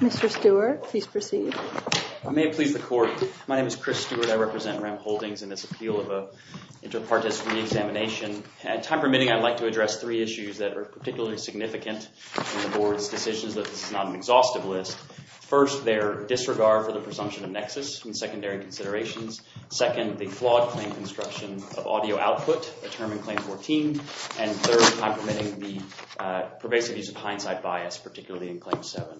Mr. Stewart, please proceed. I may please the court. My name is Chris Stewart. I represent Rem Holdings in this appeal of a inter partes re-examination. Time permitting, I'd like to address three issues that are particularly significant in the board's decisions that this is not an exhaustive list. First, their disregard for the presumption of nexus in secondary considerations. Second, the flawed claim construction of audio output, a term in claim 14. And third, time permitting the pervasive use of hindsight bias, particularly in claim 7.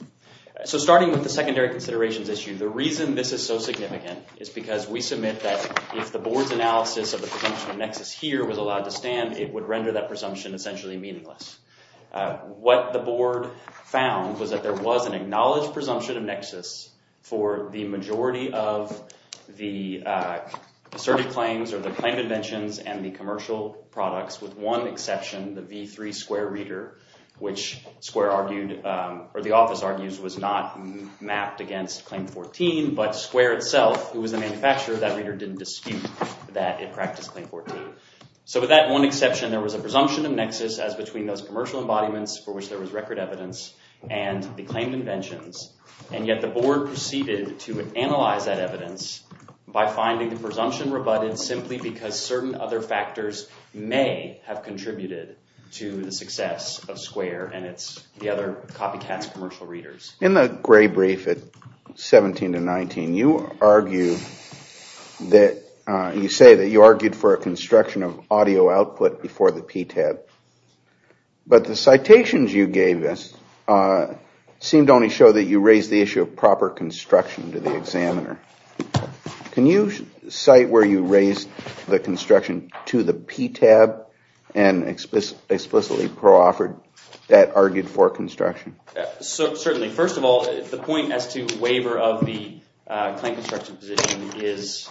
So starting with the secondary considerations issue, the reason this is so significant is because we submit that if the board's analysis of the presumption of nexus here was allowed to stand, it would render that presumption essentially meaningless. What the board found was that there was an acknowledged presumption of nexus for the majority of the asserted claims or the claim inventions and the commercial products with one exception, the v3 square reader, which Square argued or the mapped against claim 14, but Square itself, who was the manufacturer, that reader didn't dispute that it practiced claim 14. So with that one exception, there was a presumption of nexus as between those commercial embodiments for which there was record evidence and the claimed inventions, and yet the board proceeded to analyze that evidence by finding the presumption rebutted simply because certain other factors may have contributed to the success of Square and its other copycats, commercial readers. In the gray brief at 17 to 19, you argue that you say that you argued for a construction of audio output before the PTAB, but the citations you gave us seemed to only show that you raised the issue of proper construction to the examiner. Can you cite where you raised the construction to the PTAB and explicitly pro-offered that argued for construction? Certainly. First of all, the point as to waiver of the claim construction position is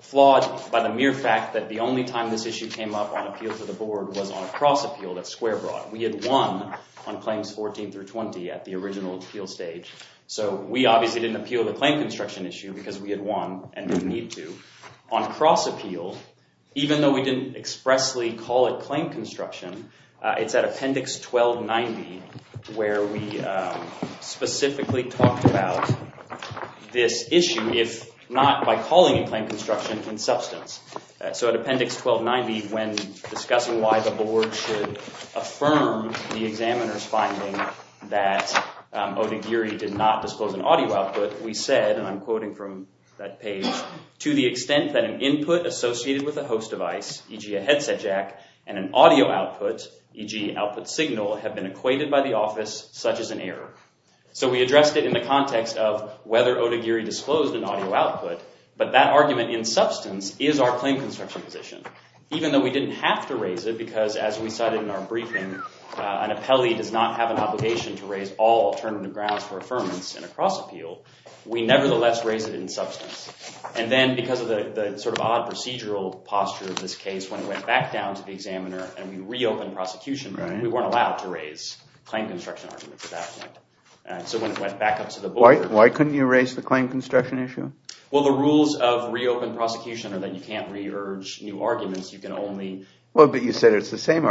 flawed by the mere fact that the only time this issue came up on appeal to the board was on a cross appeal that Square brought. We had won on claims 14 through 20 at the original appeal stage, so we obviously didn't appeal the claim construction issue because we had won and didn't need to. On cross appeal, even though we didn't expressly call it claim construction, it's at appendix 1290 where we specifically talked about this issue if not by calling a claim construction in substance. So at appendix 1290 when discussing why the board should affirm the examiner's finding that Odagiri did not disclose an audio output, we said, and I'm quoting from that page, to the extent that an input associated with a host device, e.g. a headset jack, and an audio output, e.g. output signal, have been equated by the office such as an error. So we addressed it in the context of whether Odagiri disclosed an audio output, but that argument in substance is our claim construction position, even though we didn't have to raise it because as we cited in our briefing, an appeal, we nevertheless raised it in substance. And then because of the sort of odd procedural posture of this case, when it went back down to the examiner and we reopened prosecution, we weren't allowed to raise claim construction arguments at that point. So when it went back up to the board... Why couldn't you raise the claim construction issue? Well, the rules of reopened prosecution are that you can't re-urge new arguments, you can only... Well, but you said it's the same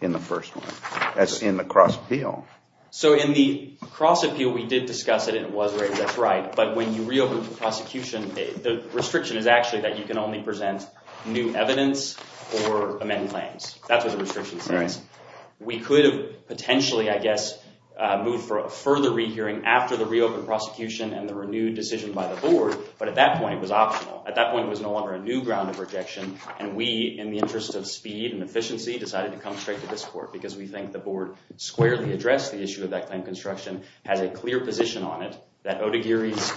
in the first one. That's in the cross appeal. So in the cross appeal, we did discuss it and it was raised, that's right, but when you reopen prosecution, the restriction is actually that you can only present new evidence or amend claims. That's what the restriction says. We could have potentially, I guess, moved for a further re-hearing after the reopened prosecution and the renewed decision by the board, but at that point it was optional. At that point it was no longer a new ground of rejection and we, in the interest of speed and efficiency, decided to come straight to this court because we think the board squarely addressed the issue of that claim construction, has a clear position on it, that Odagiri's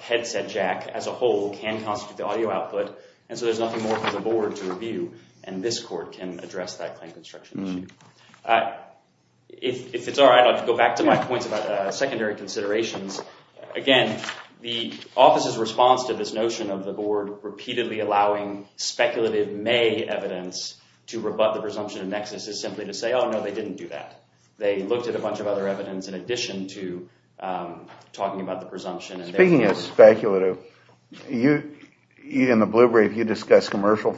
headset jack as a whole can constitute the audio output, and so there's nothing more for the board to review and this court can address that claim construction issue. If it's alright, I'll go back to my points about secondary considerations. Again, the office's response to this notion of the board repeatedly allowing speculative May evidence to rebut the presumption of nexus is simply to say, oh no, they didn't do that. They looked at a bunch of other evidence in addition to talking about the presumption. Speaking of speculative, you, in the Blue Brief, you discussed commercial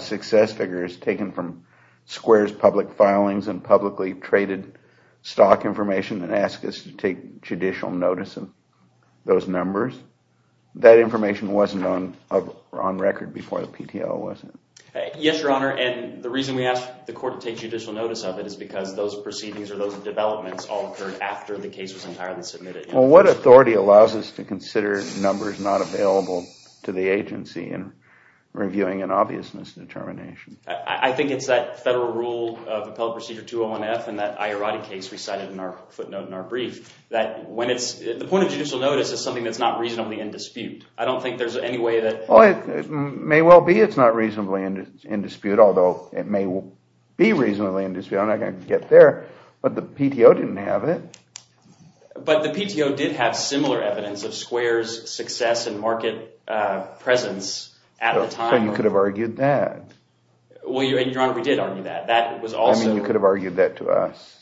success figures taken from Square's public filings and publicly traded stock information and ask us to take judicial notice of those numbers. That information wasn't on record before the PTL was. Yes, Your Honor, and the reason we asked the court to take judicial notice of it is because those proceedings or those developments all occurred after the case was entirely submitted. Well, what authority allows us to consider numbers not available to the agency in reviewing an obvious misdetermination? I think it's that federal rule of Appellate Procedure 201F and that Iorotti case we cited in our footnote in our brief, that when it's, the point of judicial notice is something that's not reasonably in dispute. I don't think there's any way that... Well, it may well be it's not reasonably in dispute, although it may be reasonably in dispute. I'm not going to get there, but the PTO didn't have it. But the PTO did have similar evidence of Square's success and market presence at the time. So you could have argued that. Well, Your Honor, we did argue that. That was also... I mean, you could have argued that to us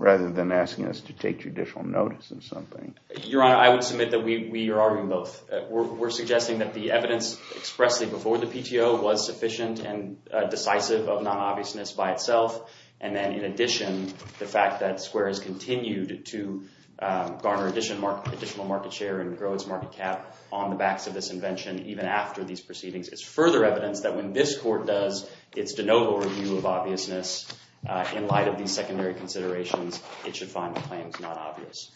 rather than asking us to take judicial notice of something. Your Honor, I would submit that we are arguing both. We're suggesting that the evidence expressly before the PTO was sufficient and decisive of non-obviousness by itself, and then in addition, the fact that Square has continued to garner additional market share and grow its market cap on the backs of this invention even after these proceedings is further evidence that when this court does its de novo review of obviousness in light of these secondary considerations, it should find claims non-obvious.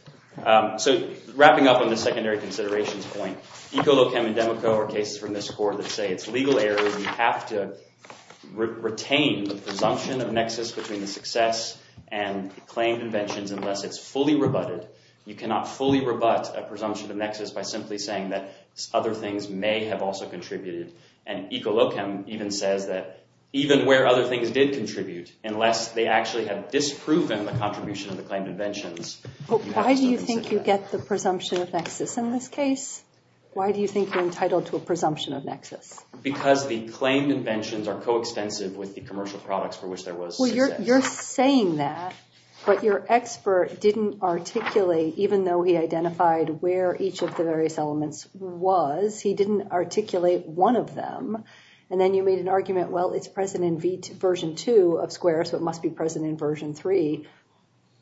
So wrapping up on the secondary considerations point, ECOLOCHEM and DEMOCO are cases from this court that say it's legal error. We have to retain the presumption of nexus between the success and claimed inventions unless it's fully rebutted. You cannot fully rebut a presumption of nexus by simply saying that other things may have also contributed. And ECOLOCHEM even says that even where other things did contribute, unless they actually have proven the contribution of the claimed inventions. Why do you think you get the presumption of nexus in this case? Why do you think you're entitled to a presumption of nexus? Because the claimed inventions are co-extensive with the commercial products for which there was success. Well, you're saying that, but your expert didn't articulate, even though he identified where each of the various elements was, he didn't articulate one of them. And then you made an argument, well it's present in version 2 of SQUARE, so it must be present in version 3.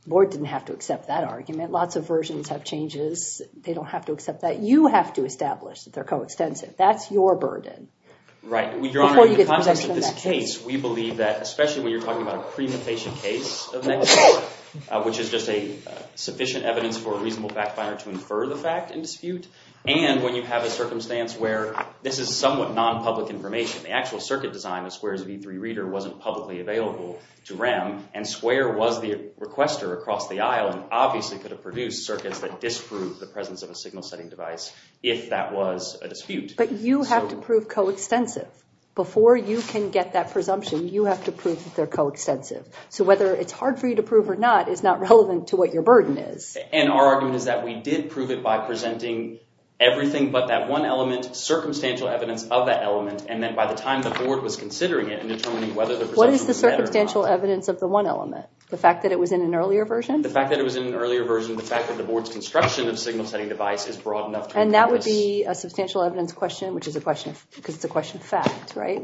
The board didn't have to accept that argument. Lots of versions have changes. They don't have to accept that. You have to establish that they're co-extensive. That's your burden. Right. In the context of this case, we believe that, especially when you're talking about a pre-mutation case of nexus, which is just a sufficient evidence for a reasonable backfiner to infer the fact in dispute. And when you have a circumstance where this is somewhat non-public information, the actual circuit design of SQUARE's V3 reader wasn't publicly available to REM, and SQUARE was the requester across the aisle and obviously could have produced circuits that disprove the presence of a signal setting device if that was a dispute. But you have to prove co-extensive. Before you can get that presumption, you have to prove that they're co-extensive. So whether it's hard for you to prove or not is not relevant to what your burden is. And our argument is that we did prove it by presenting everything but that one element, circumstantial evidence of that What is the circumstantial evidence of the one element? The fact that it was in an earlier version? The fact that it was in an earlier version, the fact that the board's construction of signal setting device is broad enough. And that would be a substantial evidence question, which is a question because it's a question of fact, right?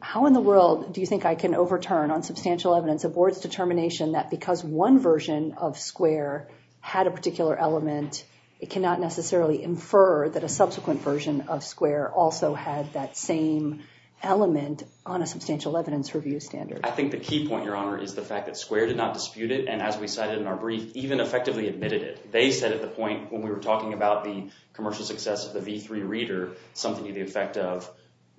How in the world do you think I can overturn on substantial evidence a board's determination that because one version of SQUARE had a particular element, it cannot necessarily infer that a subsequent version of SQUARE also had that same element on a substantial evidence review standard? I think the key point, Your Honor, is the fact that SQUARE did not dispute it and as we cited in our brief, even effectively admitted it. They said at the point when we were talking about the commercial success of the V3 reader, something to the effect of,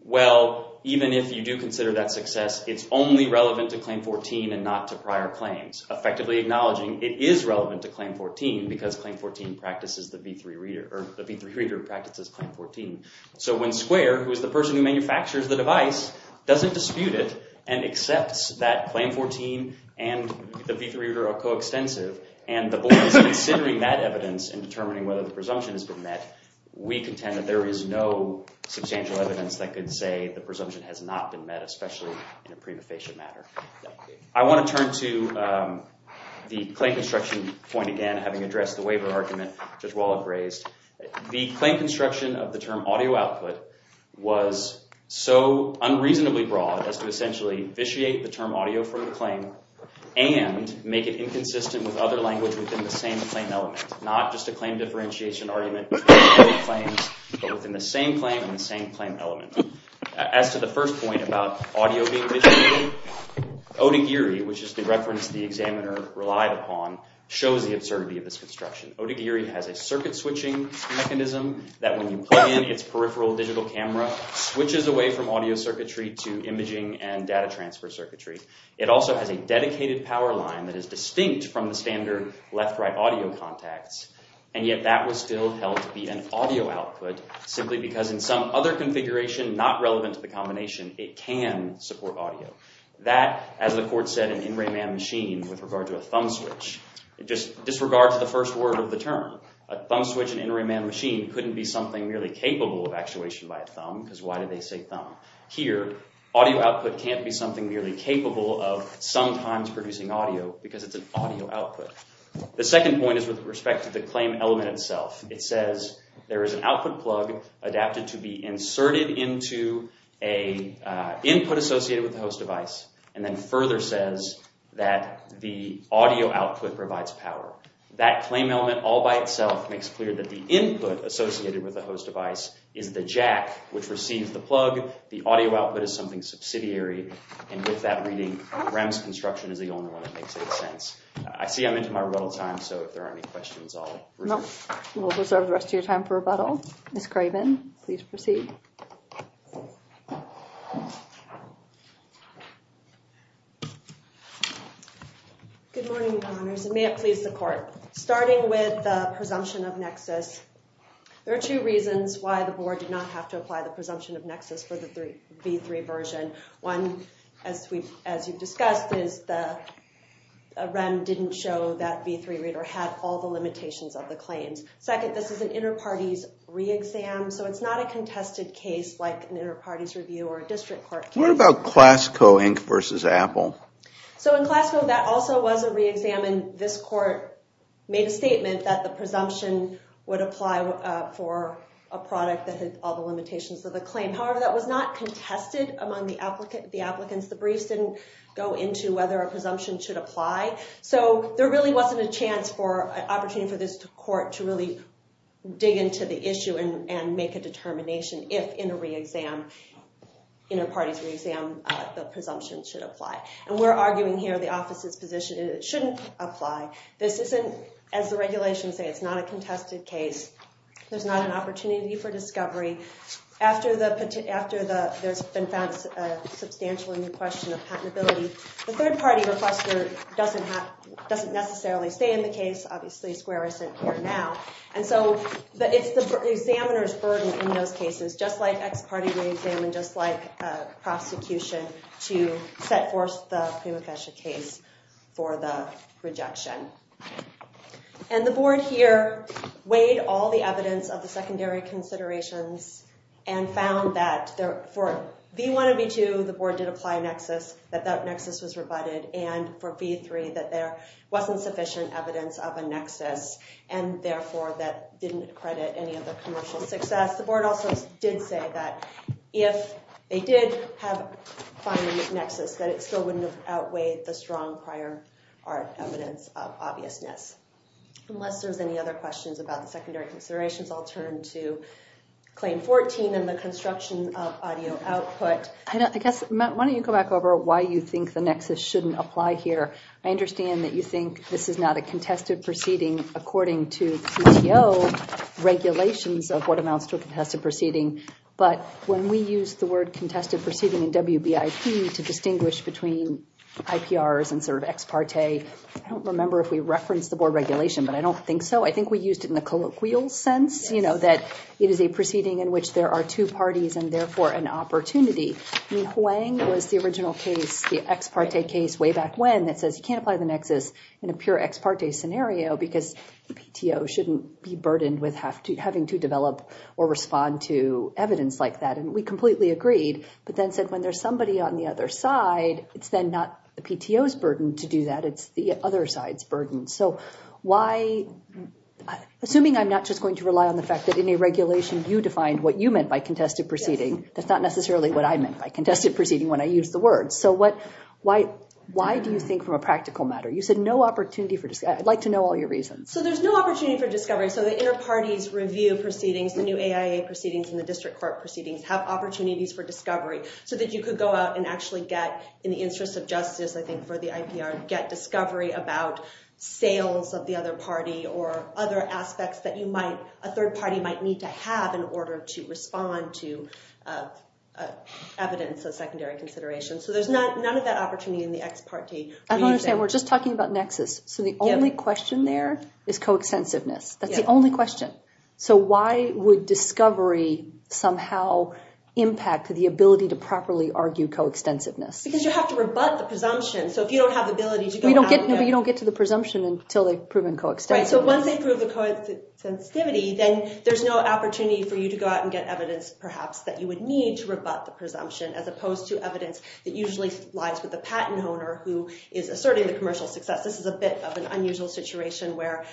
well, even if you do consider that success, it's only relevant to Claim 14 and not to prior claims. Effectively acknowledging it is relevant to Claim 14 because Claim 14 practices the V3 reader or the V3 reader of Claim 14. So when SQUARE, who is the person who manufactures the device, doesn't dispute it and accepts that Claim 14 and the V3 reader are coextensive and the board is considering that evidence and determining whether the presumption has been met, we contend that there is no substantial evidence that could say the presumption has not been met, especially in a prima facie matter. I want to turn to the claim construction point again, having addressed the waiver argument that Judge Wall had raised. The claim construction of the term audio output was so unreasonably broad as to essentially vitiate the term audio from the claim and make it inconsistent with other language within the same claim element, not just a claim differentiation argument, but within the same claim and the same claim element. As to the first point about audio being vitiated, Odagiri, which is the reference the examiner relied upon, shows the absurdity of this construction. Odagiri has a circuit switching mechanism that when you plug in its peripheral digital camera switches away from audio circuitry to imaging and data transfer circuitry. It also has a dedicated power line that is distinct from the standard left-right audio contacts, and yet that was still held to be an audio output simply because in some other configuration not relevant to the combination, it can support audio. That, as the court said in Rayman Machine with regard to a thumb switch, it just disregards the first word of the term. A thumb switch in Rayman Machine couldn't be something merely capable of actuation by a thumb because why did they say thumb? Here, audio output can't be something merely capable of sometimes producing audio because it's an audio output. The second point is with respect to the claim element itself. It says there is an output plug adapted to be inserted into a input associated with a host device, and then further says that the audio output provides power. That claim element all by itself makes clear that the input associated with the host device is the jack which receives the plug. The audio output is something subsidiary, and with that reading, Rems Construction is the only one that makes any sense. I see I'm into my rebuttal time, so if there are any questions, I'll reserve the rest of your time for rebuttal. Ms. Craven, please proceed. Good morning, Your Honors, and may it please the court. Starting with the presumption of nexus, there are two reasons why the board did not have to apply the presumption of nexus for the V3 version. One, as you've discussed, is the REM didn't show that V3 reader had all the limitations of the claims. Second, this is an inter-parties re-exam, so it's not a contested case like an inter-parties review or a CLASCO, Inc. versus Apple. So in CLASCO, that also was a re-exam, and this court made a statement that the presumption would apply for a product that had all the limitations of the claim. However, that was not contested among the applicants. The briefs didn't go into whether a presumption should apply, so there really wasn't a chance for an opportunity for this court to really dig into the issue and make a determination if in a re-exam, inter-parties re-exam, the presumption should apply. And we're arguing here the office's position is it shouldn't apply. This isn't, as the regulations say, it's not a contested case. There's not an opportunity for discovery. After there's been found a substantial and new question of patentability, the third party requester doesn't necessarily stay in the case. Obviously, Square isn't here now. And so it's the examiner's burden in those cases, just like ex-party re-exam and just like prosecution, to set forth the Prima Fecha case for the rejection. And the board here weighed all the evidence of the secondary considerations and found that for V1 and V2, the board did apply a nexus, that that nexus was rebutted, and for V3, that there wasn't sufficient evidence of a nexus, and therefore that didn't credit any of the commercial success. The board also did say that if they did have a nexus, that it still wouldn't have outweighed the strong prior evidence of obviousness. Unless there's any other questions about the secondary considerations, I'll turn to Claim 14 and the construction of audio output. I guess, Matt, why don't you go back over why you think the nexus shouldn't apply here. I understand that you think this is not a contested proceeding according to CTO regulations of what amounts to a contested proceeding, but when we use the word contested proceeding in WBIP to distinguish between IPRs and sort of ex-parte, I don't remember if we referenced the board regulation, but I don't think so. I think we used it in the colloquial sense, you know, that it is a proceeding in which there are two parties and therefore an opportunity. I mean, Huang was the original case, the ex-parte case, way back when that says you can't apply the nexus in a pure ex-parte scenario because the PTO shouldn't be burdened with having to develop or respond to evidence like that. And we completely agreed, but then said when there's somebody on the other side, it's then not the PTO's burden to do that, it's the other side's burden. So why, assuming I'm not just going to rely on the fact that in a regulation you defined what you meant by contested proceeding, that's not necessarily what I meant by contested proceeding when I use the word. So what, why do you think from a practical matter, you said no opportunity for, I'd like to know all your reasons. So there's no opportunity for discovery, so the inner parties review proceedings, the new AIA proceedings and the district court proceedings have opportunities for discovery, so that you could go out and actually get, in the interest of justice I think for the IPR, get discovery about sales of the other party or other aspects that you might, a third party might need to have in order to respond to evidence of secondary consideration. So there's none of that opportunity in the ex parte. I don't understand, we're just talking about nexus, so the only question there is co-extensiveness, that's the only question. So why would discovery somehow impact the ability to properly argue co-extensiveness? Because you have to rebut the presumption, so if you don't have the ability to go out and get... No, but you don't get to the presumption until they've proven co-extensiveness. Right, so once they prove the co-extensivity, then there's no opportunity for you to go out and get evidence perhaps that you would need to go out and get evidence. So that usually lies with the patent owner who is asserting the commercial success. This is a bit of an unusual situation where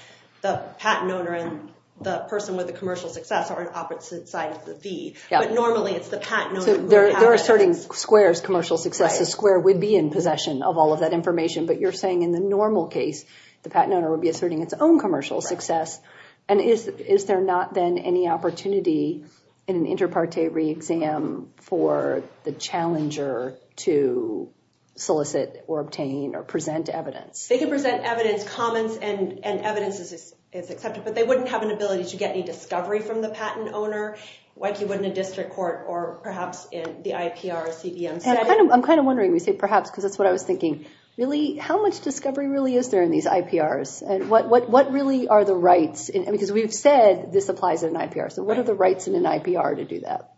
the patent owner and the person with the commercial success are on opposite sides of the feed, but normally it's the patent owner... So they're asserting Square's commercial success, so Square would be in possession of all of that information, but you're saying in the normal case the patent owner would be asserting its own commercial success, and is there not then any opportunity in the patent owner's case to solicit or obtain or present evidence? They can present evidence, comments, and evidence is accepted, but they wouldn't have an ability to get any discovery from the patent owner like you would in a district court or perhaps in the IPR or CBM. I'm kind of wondering, we say perhaps because that's what I was thinking, really, how much discovery really is there in these IPRs, and what really are the rights? Because we've said this applies in an IPR, so what are the rights in an IPR to do that?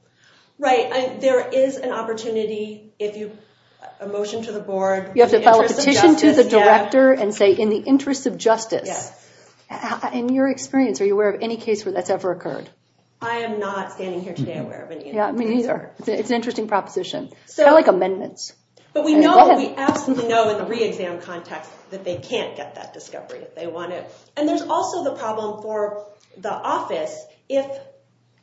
Right, there is an opportunity if you... a motion to the board... You have to file a petition to the director and say in the interest of justice. In your experience, are you aware of any case where that's ever occurred? I am not standing here today aware of any. Yeah, me neither. It's an interesting proposition. Kind of like amendments. But we know, we absolutely know in the re-exam context that they can't get that discovery if they want it, and there's also the problem for the office. If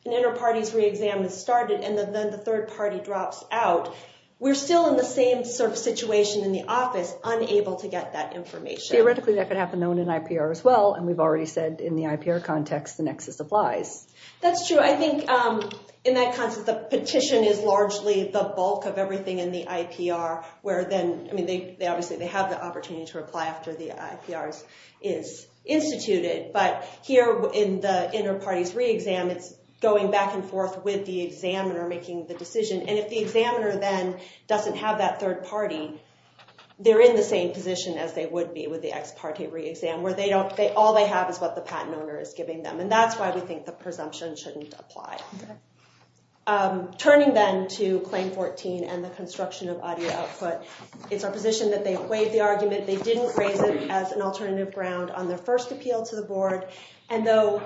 an inter-parties re-exam has started and then the third party drops out, we're still in the same sort of situation in the office, unable to get that information. Theoretically, that could happen in an IPR as well, and we've already said in the IPR context, the nexus applies. That's true. I think in that context, the petition is largely the bulk of everything in the IPR where then, I mean, they obviously, they have the IPRs is instituted, but here in the inter-parties re-exam, it's going back and forth with the examiner making the decision, and if the examiner then doesn't have that third party, they're in the same position as they would be with the ex-parte re-exam, where all they have is what the patent owner is giving them, and that's why we think the presumption shouldn't apply. Turning then to Claim 14 and the construction of audio output, it's our alternative ground on their first appeal to the board, and though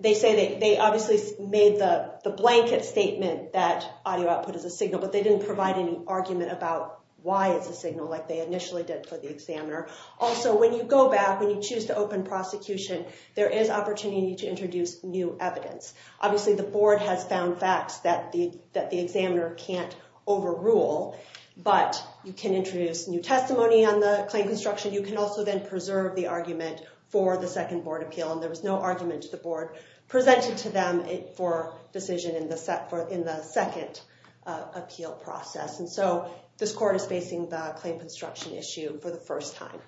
they say that they obviously made the blanket statement that audio output is a signal, but they didn't provide any argument about why it's a signal like they initially did for the examiner. Also, when you go back, when you choose to open prosecution, there is opportunity to introduce new evidence. Obviously, the board has found facts that the examiner can't overrule, but you can introduce new testimony on the claim construction. You can also then preserve the argument for the second board appeal, and there was no argument to the board presented to them for decision in the second appeal process, and so this court is facing the claim construction issue for the first time.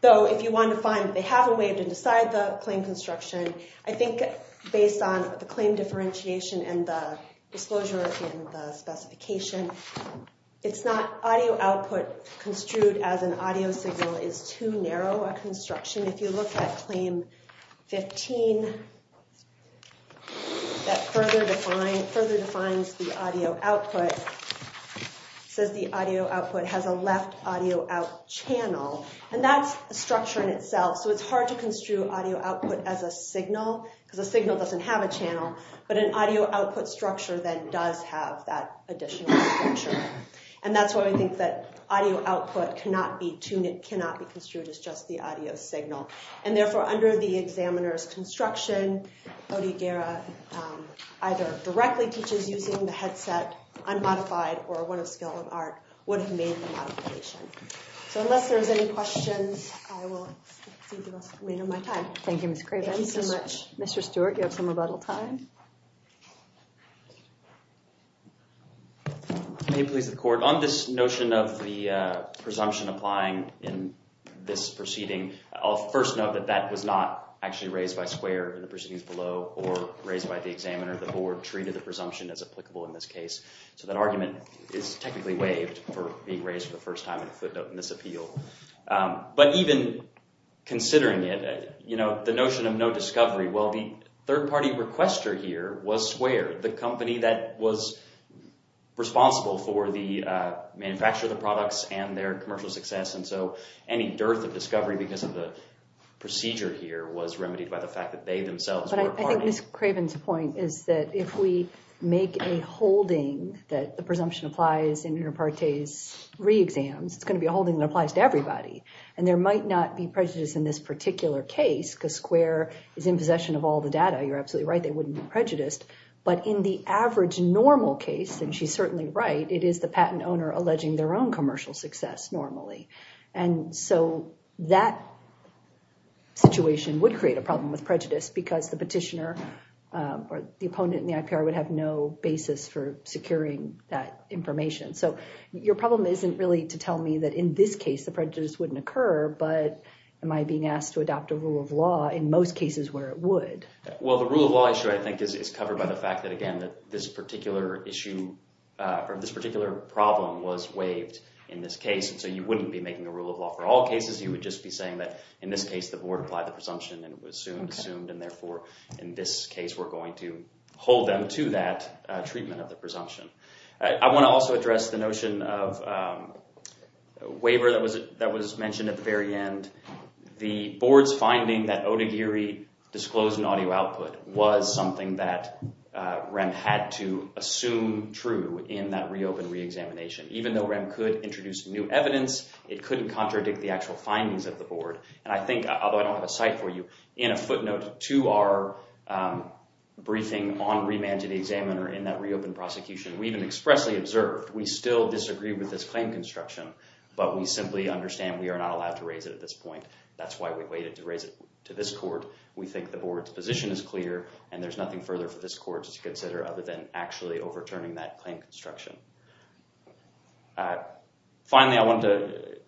Though, if you want to find they have a way to decide the claim construction, I think based on the claim differentiation and the disclosures and the specification, it's not audio output construed as an audio signal is too narrow a construction. If you look at Claim 15 that further defines the audio output, it says the audio output has a left audio out channel, and that's the structure in itself, so it's hard to construe audio output as a signal, because a signal doesn't have a channel, but an audio output structure then does have that additional structure, and that's why we think that audio output cannot be tuned, it cannot be construed as just the audio signal, and therefore under the examiner's construction, Bodeguera either directly teaches using the headset, unmodified, or one of skill and art would have made the modification. So, unless there's any questions, I will give up my time. Thank you, Ms. Craven. Mr. Stewart, you have some rebuttal time. May it please the court, on this notion of the presumption applying in this proceeding, I'll first note that that was not actually raised by Square in the proceedings below, or raised by the examiner. The board treated the presumption as applicable in this case, so that argument is technically waived for being raised for the first time in a discovery. Well, the third-party requester here was Square, the company that was responsible for the manufacture of the products and their commercial success, and so any dearth of discovery because of the procedure here was remedied by the fact that they themselves were part of it. I think Ms. Craven's point is that if we make a holding that the presumption applies in inter partes re-exams, it's going to be a holding that applies to everybody, and there might not be prejudice in this particular case, because Square is in possession of all the data. You're absolutely right, they wouldn't be prejudiced, but in the average normal case, and she's certainly right, it is the patent owner alleging their own commercial success normally, and so that situation would create a problem with prejudice because the petitioner or the opponent in the IPR would have no basis for securing that information. So your problem isn't really to tell me that in this case the prejudice wouldn't occur, but am I being asked to adopt a rule of law in most cases where it would? Well, the rule of law issue, I think, is covered by the fact that, again, that this particular issue or this particular problem was waived in this case, and so you wouldn't be making a rule of law for all cases, you would just be saying that in this case the board applied the presumption and it was soon assumed, and therefore in this case we're going to hold them to that treatment of the presumption. I want to also address the waiver that was mentioned at the very end. The board's finding that Odagiri disclosed an audio output was something that REM had to assume true in that reopened re-examination. Even though REM could introduce new evidence, it couldn't contradict the actual findings of the board, and I think, although I don't have a site for you, in a footnote to our briefing on remand to the examiner in that reopened prosecution, we even expressly observed we still disagree with this claim construction, but we simply understand we are not allowed to raise it at this point. That's why we waited to raise it to this court. We think the board's position is clear and there's nothing further for this court to consider other than actually overturning that claim construction. Finally, I want to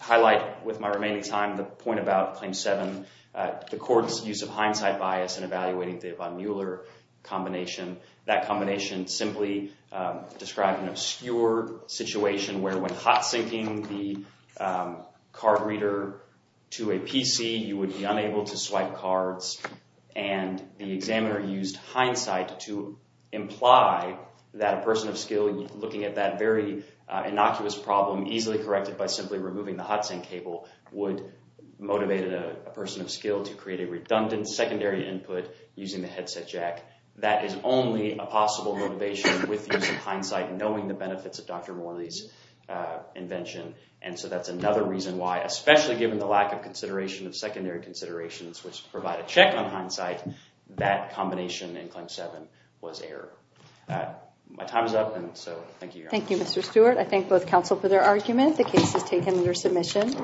highlight with my remaining time the point about Claim 7, the court's use of hindsight bias in evaluating the Yvonne Mueller combination. That combination simply described an obscure situation where when hot-syncing the card reader to a PC, you would be unable to swipe cards, and the examiner used hindsight to imply that a person of skill looking at that very innocuous problem, easily corrected by simply removing the hot-sync cable, would motivate a person of skill to create a redundant secondary input using the possible motivation with hindsight, knowing the benefits of Dr. Morley's invention, and so that's another reason why, especially given the lack of consideration of secondary considerations which provide a check on hindsight, that combination in Claim 7 was error. My time is up, and so thank you. Thank you, Mr. Stewart. I thank both counsel for their argument. The case is taken under submission.